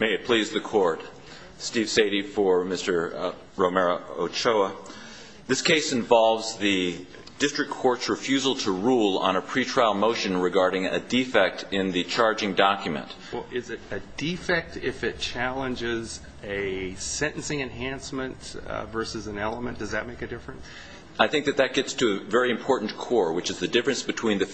May it please the Court. Steve Sadie for Mr. Romero-Ochoa. This case involves the district court's refusal to rule on a pretrial motion regarding a defect in the charging document. Well, is it a defect if it challenges a sentencing enhancement versus an element? Does that make a difference? I think that that gets to a very important core, which is the difference between the and the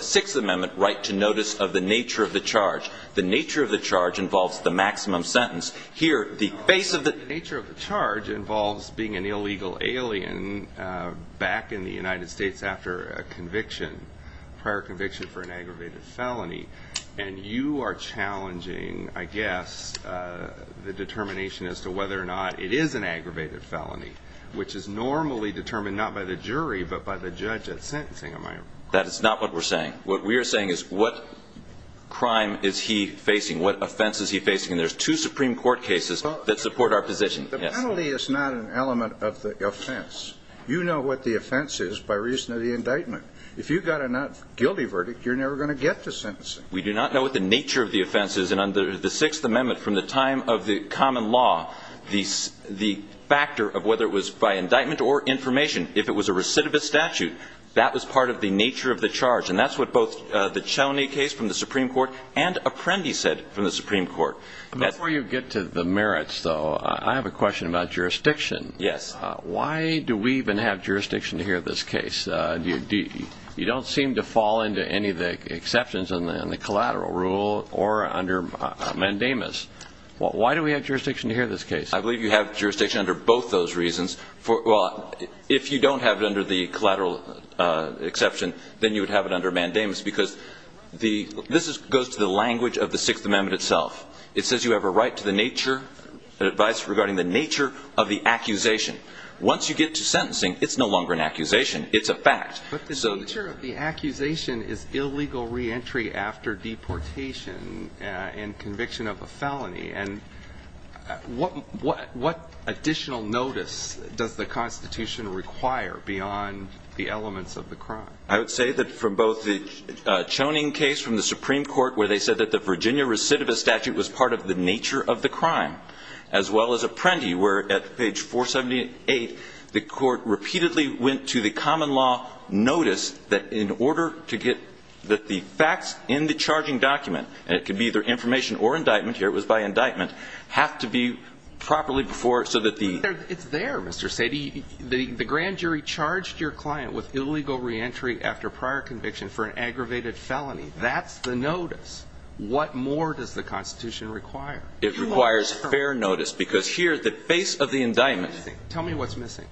Sixth Amendment right to notice of the nature of the charge. The nature of the charge involves the maximum sentence. Here, the base of the nature of the charge involves being an illegal alien back in the United States after a conviction, prior conviction for an aggravated felony. And you are challenging, I guess, the determination as to whether or not it is an aggravated felony, which is normally determined not by the jury, but by the judge at sentencing. That is not what we're saying. What we are saying is what crime is he facing? What offense is he facing? And there's two Supreme Court cases that support our position. The penalty is not an element of the offense. You know what the offense is by reason of the indictment. If you've got a not guilty verdict, you're never going to get to sentencing. We do not know what the nature of the offense is. And under the Sixth Amendment, from the time of the common law, the factor of whether it was by indictment or information, if it was a recidivist statute, that was part of the nature of the charge. And that's what both the Cheney case from the Supreme Court and Apprendi said from the Supreme Court. Before you get to the merits, though, I have a question about jurisdiction. Yes. Why do we even have jurisdiction here in this case? You don't seem to fall into any of the exceptions in the collateral rule or under mandamus. Why do we have jurisdiction here in this case? I believe you have jurisdiction under both those reasons. Well, if you don't have it under the collateral exception, then you would have it under mandamus, because this goes to the language of the Sixth Amendment itself. It says you have a right to the nature, advice regarding the nature of the accusation. Once you get to sentencing, it's no longer an accusation. It's a fact. But the nature of the accusation is illegal reentry after deportation and conviction of a felony. And what additional notice does the Constitution require beyond the elements of the crime? I would say that from both the Cheney case from the Supreme Court, where they said that the Virginia recidivist statute was part of the nature of the crime, as well as Apprendi, where at page 478, the Court repeatedly went to the common law notice that in order to get the facts in the charging document, and it could be either information or indictment here, it was by indictment, have to be properly before so that the It's there, Mr. Sadie. The grand jury charged your client with illegal reentry after prior conviction for an aggravated felony. That's the notice. What more does the Constitution require? It requires fair notice, because here, the face of the indictment Tell me what's missing.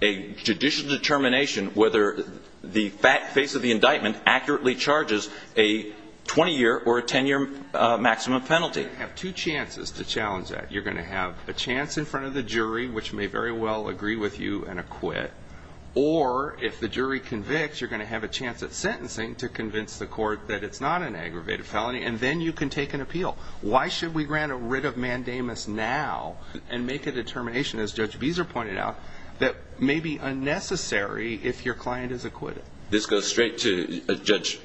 a judicial determination whether the face of the indictment accurately charges a 20-year or a 10-year maximum penalty. You have two chances to challenge that. You're going to have a chance in front of the jury, which may very well agree with you and acquit, or if the jury convicts, you're going to have a chance at sentencing to convince the court that it's not an aggravated felony, and then you can take an appeal. Why should we grant a writ of mandamus now and make a determination, as Judge Beezer pointed out, that may be unnecessary if your client is acquitted? This goes straight to Judge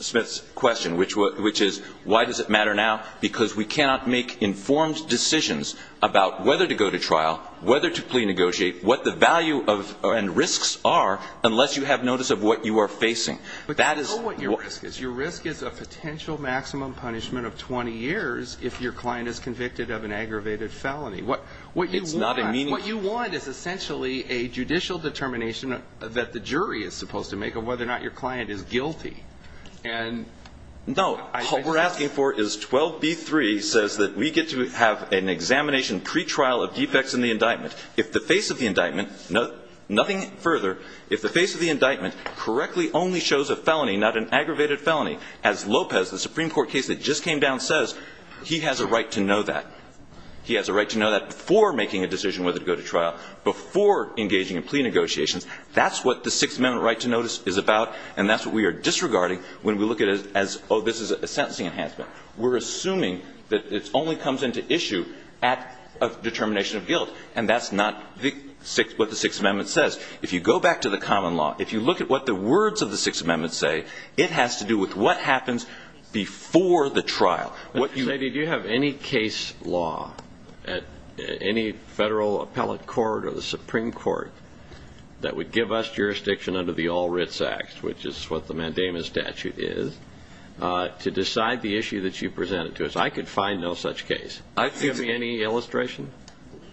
Smith's question, which is, why does it matter now? Because we cannot make informed decisions about whether to go to trial, whether to plea negotiate, what the value and risks are, unless you have notice of what you are facing. That is But you know what your risk is. Your risk is a potential maximum punishment of 20 years if your client is convicted of an aggravated felony. What you want is essentially a judicial determination that the jury is supposed to make of whether or not your client is guilty. No. What we're asking for is 12B3 says that we get to have an examination pretrial of defects in the indictment. If the face of the indictment, nothing further, if the face of the indictment correctly only shows a felony, not an aggravated felony, as Lopez, the Supreme Court case that just came down, says, he has a right to know that. He has a right to know that before making a decision whether to go to trial, before engaging in plea negotiations. That's what the Sixth Amendment right to notice is about, and that's what we are disregarding when we look at it as, oh, this is a sentencing enhancement. We're assuming that it only comes into issue at a determination of guilt, and that's not what the Sixth Amendment says. If you go back to the common law, if you look at what the words of the Sixth Amendment say, it has to do with what happens before the trial. Did you have any case law at any federal appellate court or the Supreme Court that would give us jurisdiction under the All Writs Act, which is what the Mandamus statute is, to decide the issue that you presented to us? I could find no such case. Give me any illustration.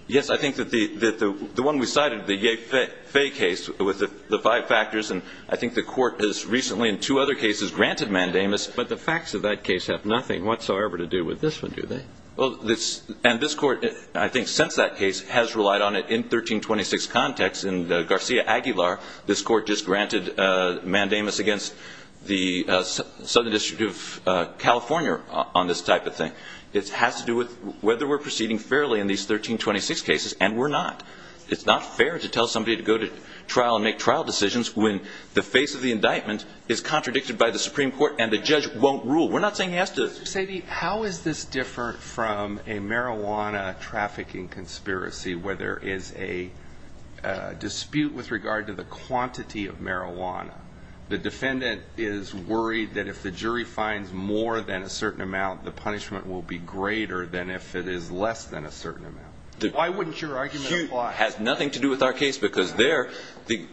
Yes. I think that the one we cited, the Ye Faye case with the five factors, and I think the Court has recently in two other cases granted Mandamus, but the facts of that case have nothing whatsoever to do with this one, do they? And this Court, I think since that case, has relied on it in 1326 context. In the Garcia-Aguilar, this Court just granted Mandamus against the Southern District of California on this type of thing. It has to do with whether we're proceeding fairly in these 1326 cases, and we're not. It's not fair to tell somebody to go to trial and make trial decisions when the face of the indictment is contradicted by the Supreme Court and the judge won't rule. We're not saying he has to. Mr. Sadie, how is this different from a marijuana trafficking conspiracy where there is a dispute with regard to the quantity of marijuana? The defendant is worried that if the jury finds more than a certain amount, the punishment will be greater than if it is less than a certain amount. Why wouldn't your argument apply? It has nothing to do with our case because there, the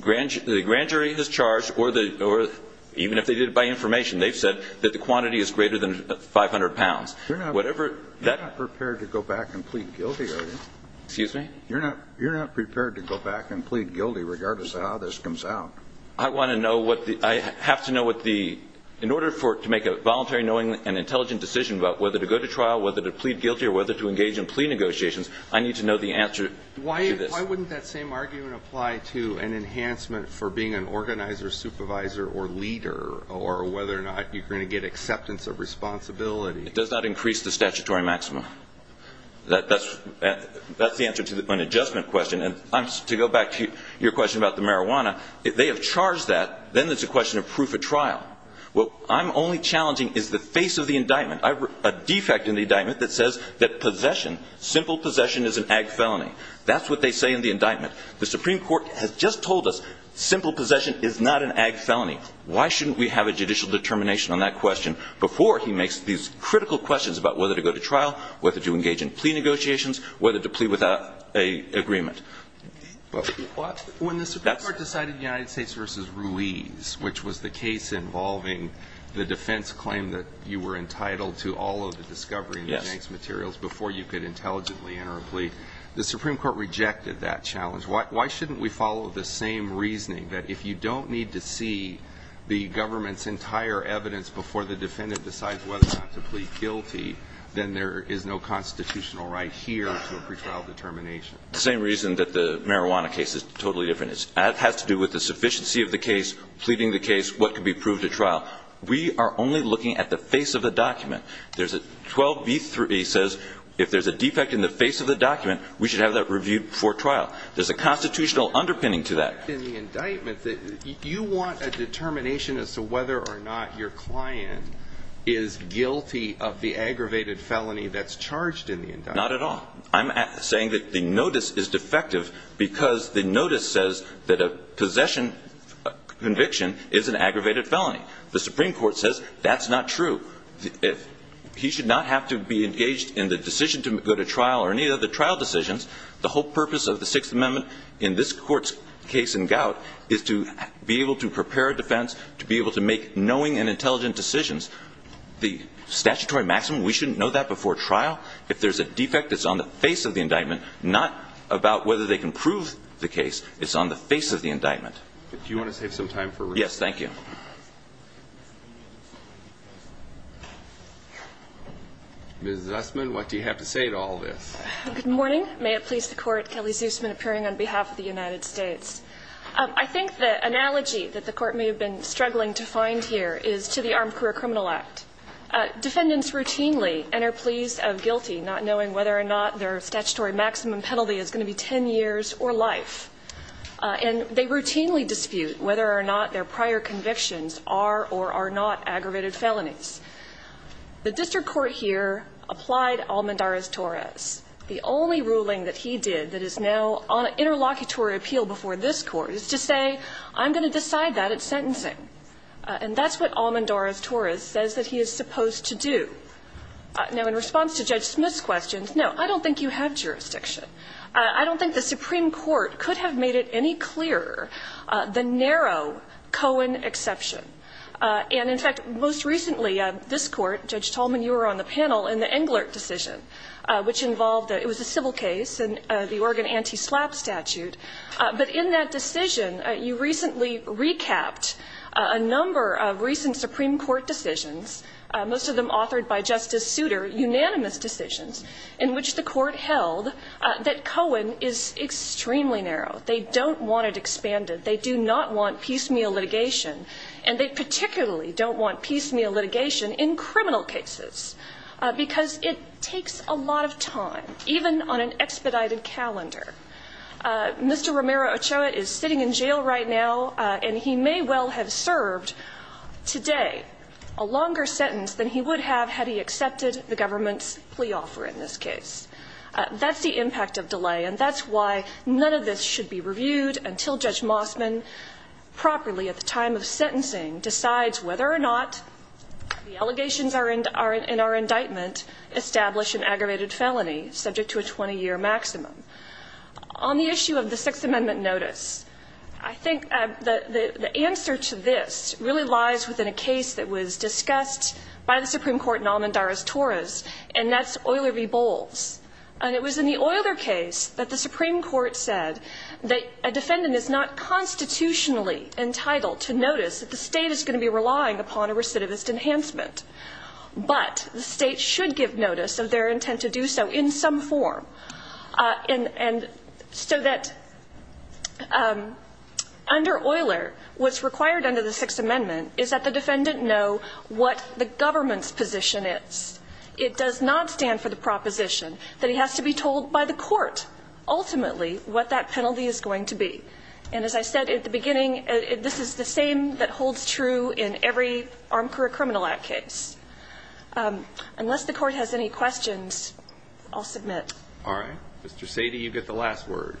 grand jury is charged, or even if they did it by information, they've said that the quantity is greater than 500 pounds. You're not prepared to go back and plead guilty, are you? Excuse me? You're not prepared to go back and plead guilty regardless of how this comes out. I want to know what the, I have to know what the, in order for, to make a voluntary knowing and intelligent decision about whether to go to trial, whether to plead guilty, or whether to engage in plea negotiations, I need to know the answer to this. Why wouldn't that same argument apply to an enhancement for being an organizer, supervisor, or leader, or whether or not you're going to get acceptance of responsibility? It does not increase the statutory maximum. That's the answer to an adjustment question. And to go back to your question about the marijuana, if they have charged that, then it's a question of proof of trial. What I'm only challenging is the face of the indictment. I've, a defect in the indictment that says that possession, simple possession is an ag felony. That's what they say in the indictment. The Supreme Court has just told us simple Why shouldn't we have a judicial determination on that question before he makes these critical questions about whether to go to trial, whether to engage in plea negotiations, whether to plead without a agreement? When the Supreme Court decided United States v. Ruiz, which was the case involving the defense claim that you were entitled to all of the discovery and the janks materials before you could intelligently enter a plea, the Supreme Court rejected that challenge. Why shouldn't we follow the same reasoning that if you don't need to see the government's entire evidence before the defendant decides whether or not to plead guilty, then there is no constitutional right here to a pretrial determination? The same reason that the marijuana case is totally different. It has to do with the sufficiency of the case, pleading the case, what could be proved at trial. We are only looking at the face of the document. There's a 12b3 says if there's a defect in the face of the document, we should have that reviewed before trial. There's a constitutional underpinning to that. If there's a defect in the indictment, you want a determination as to whether or not your client is guilty of the aggravated felony that's charged in the indictment. Not at all. I'm saying that the notice is defective because the notice says that a possession conviction is an aggravated felony. The Supreme Court says that's not true. If he should not have to be engaged in the decision to go to trial or any of the trial decisions, the whole purpose of the Sixth Amendment in this court's case in gout is to be able to prepare a defense, to be able to make knowing and intelligent decisions. The statutory maximum, we shouldn't know that before trial. If there's a defect, it's on the face of the indictment, not about whether they can prove the case. It's on the face of the indictment. Do you want to save some time? Yes, thank you. Ms. Zussman, what do you have to say to all this? Good morning. May it please the Court, Kelly Zussman appearing on behalf of the United States. I think the analogy that the Court may have been struggling to find here is to the Armed Career Criminal Act. Defendants routinely enter pleas of guilty not knowing whether or not their statutory maximum penalty is going to be 10 years or life. And they routinely dispute whether or not their prior convictions are or are not aggravated felonies. The district court here applied Almendarez-Torres. The only ruling that he did that is now on an interlocutory appeal before this Court is to say, I'm going to decide that at sentencing. And that's what Almendarez-Torres says that he is supposed to do. Now, in response to Judge Smith's questions, no, I don't think you have jurisdiction. I don't think the Supreme Court could have made it any clearer the narrow Cohen exception. And, in fact, most recently, this Court, Judge Tolman, you were on the panel in the Englert decision, which involved, it was a civil case, the Oregon anti-slap statute. But in that decision, you recently recapped a number of recent Supreme Court decisions, most of them authored by Justice Souter, unanimous decisions in which the Court held that Cohen is extremely narrow. They don't want it expanded. They do not want piecemeal litigation. And they particularly don't want piecemeal litigation in criminal cases, because it takes a lot of time, even on an expedited calendar. Mr. Romero-Ochoa is sitting in jail right now, and he may well have served today a longer sentence than he would have had he accepted the government's plea offer in this case. That's the impact of delay, and that's why none of this should be reviewed until Judge Mossman, properly at the time of sentencing, decides whether or not the allegations in our indictment establish an aggravated felony subject to a 20-year maximum. On the issue of the Sixth Amendment notice, I think the answer to this really lies within a And it was in the Euler case that the Supreme Court said that a defendant is not constitutionally entitled to notice that the State is going to be relying upon a recidivist enhancement. But the State should give notice of their intent to do so in some form. And so that under Euler, what's required under the Sixth Amendment is that the defendant know what the government's position is. It does not stand for the proposition that he has to be told by the court, ultimately, what that penalty is going to be. And as I said at the beginning, this is the same that holds true in every Armed Career Criminal Act case. Unless the Court has any questions, I'll submit. All right. Mr. Sadie, you get the last word.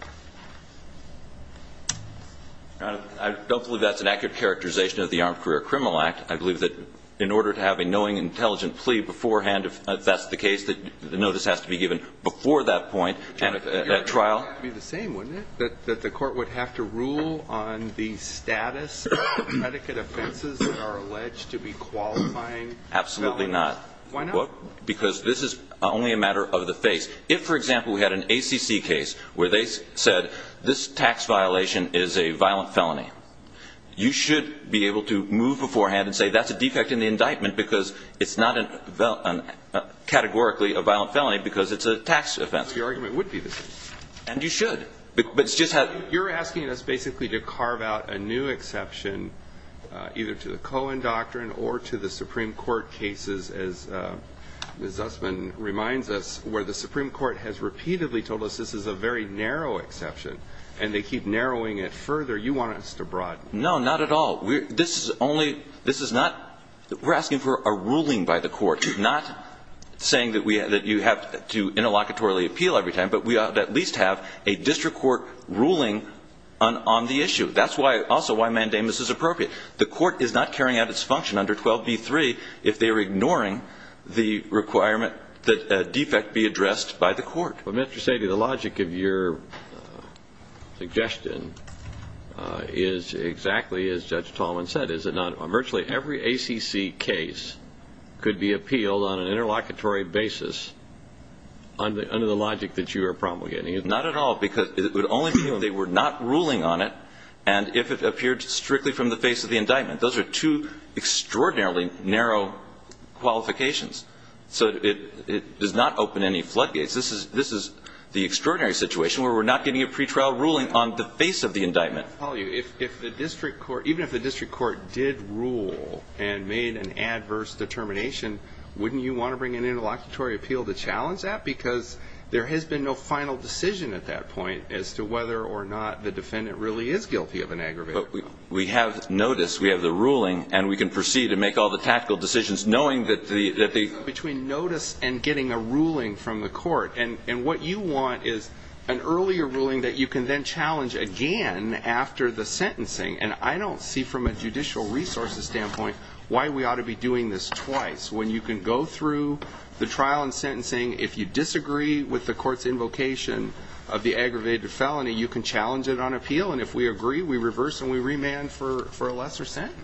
I don't believe that's an accurate characterization of the Armed Career Criminal Act. I believe that in order to have a knowing, intelligent plea beforehand, if that's the case, that the notice has to be given before that point and at trial. It would have to be the same, wouldn't it? That the court would have to rule on the status of predicate offenses that are alleged to be qualifying felonies? Absolutely not. Why not? Because this is only a matter of the face. If, for example, we had an ACC case where they said, this tax violation is a violent felony, you should be able to move beforehand and say, that's a defect in the indictment because it's not categorically a violent felony because it's a tax offense. The argument would be the same. And you should. But it's just how... You're asking us basically to carve out a new exception either to the Cohen Doctrine or to the Supreme Court cases, as Ms. Zussman reminds us, where the Supreme Court has repeatedly told us this is a very narrow exception. And they keep narrowing it further. You want us to broaden. No, not at all. This is only – this is not – we're asking for a ruling by the court, not saying that you have to interlocutory appeal every time, but we ought to at least have a district court ruling on the issue. That's also why mandamus is appropriate. The court is not carrying out its function under 12b-3 if they are ignoring the requirement that a defect be addressed by the court. But Mr. Sadie, the logic of your suggestion is exactly as Judge Tallman said. Is it not virtually every ACC case could be appealed on an interlocutory basis under the logic that you are promulgating? Not at all. Because it would only be when they were not ruling on it and if it appeared strictly from the face of the indictment. Those are two extraordinarily narrow qualifications. So it does not open any floodgates. This is the extraordinary situation where we're not getting a pretrial ruling on the face of the indictment. I'll tell you, if the district court – even if the district court did rule and made an adverse determination, wouldn't you want to bring an interlocutory appeal to challenge that? Because there has been no final decision at that point as to whether or not the defendant really is guilty of an aggravated crime. We have notice. We have the ruling. And we can proceed and make all the tactical decisions knowing that the – Between notice and getting a ruling from the court. And what you want is an earlier ruling that you can then challenge again after the sentencing. And I don't see from a judicial resources standpoint why we ought to be doing this twice when you can go through the trial and sentencing. If you disagree with the court's invocation of the aggravated felony, you can challenge it on appeal. And if we agree, we reverse and we remand for a lesser sentence.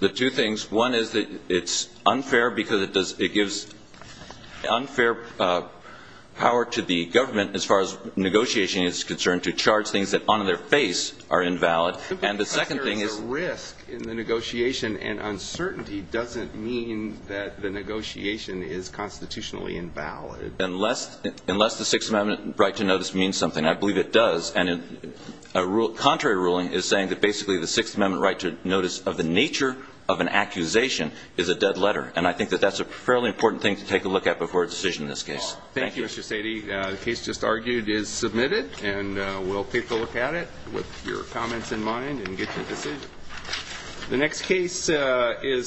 The two things, one is that it's unfair because it does – it gives unfair power to the government as far as negotiation is concerned to charge things that on their face are invalid. And the second thing is – But there is a risk in the negotiation. And uncertainty doesn't mean that the negotiation is constitutionally invalid. Unless – unless the Sixth Amendment right to notice means something. I believe it does. And a rule – contrary ruling is saying that basically the Sixth Amendment right to notice of the nature of an accusation is a dead letter. And I think that that's a fairly important thing to take a look at before a decision in this case. Thank you, Mr. Sadie. The case just argued is submitted. And we'll take a look at it with your comments in mind and get you a decision. The next case is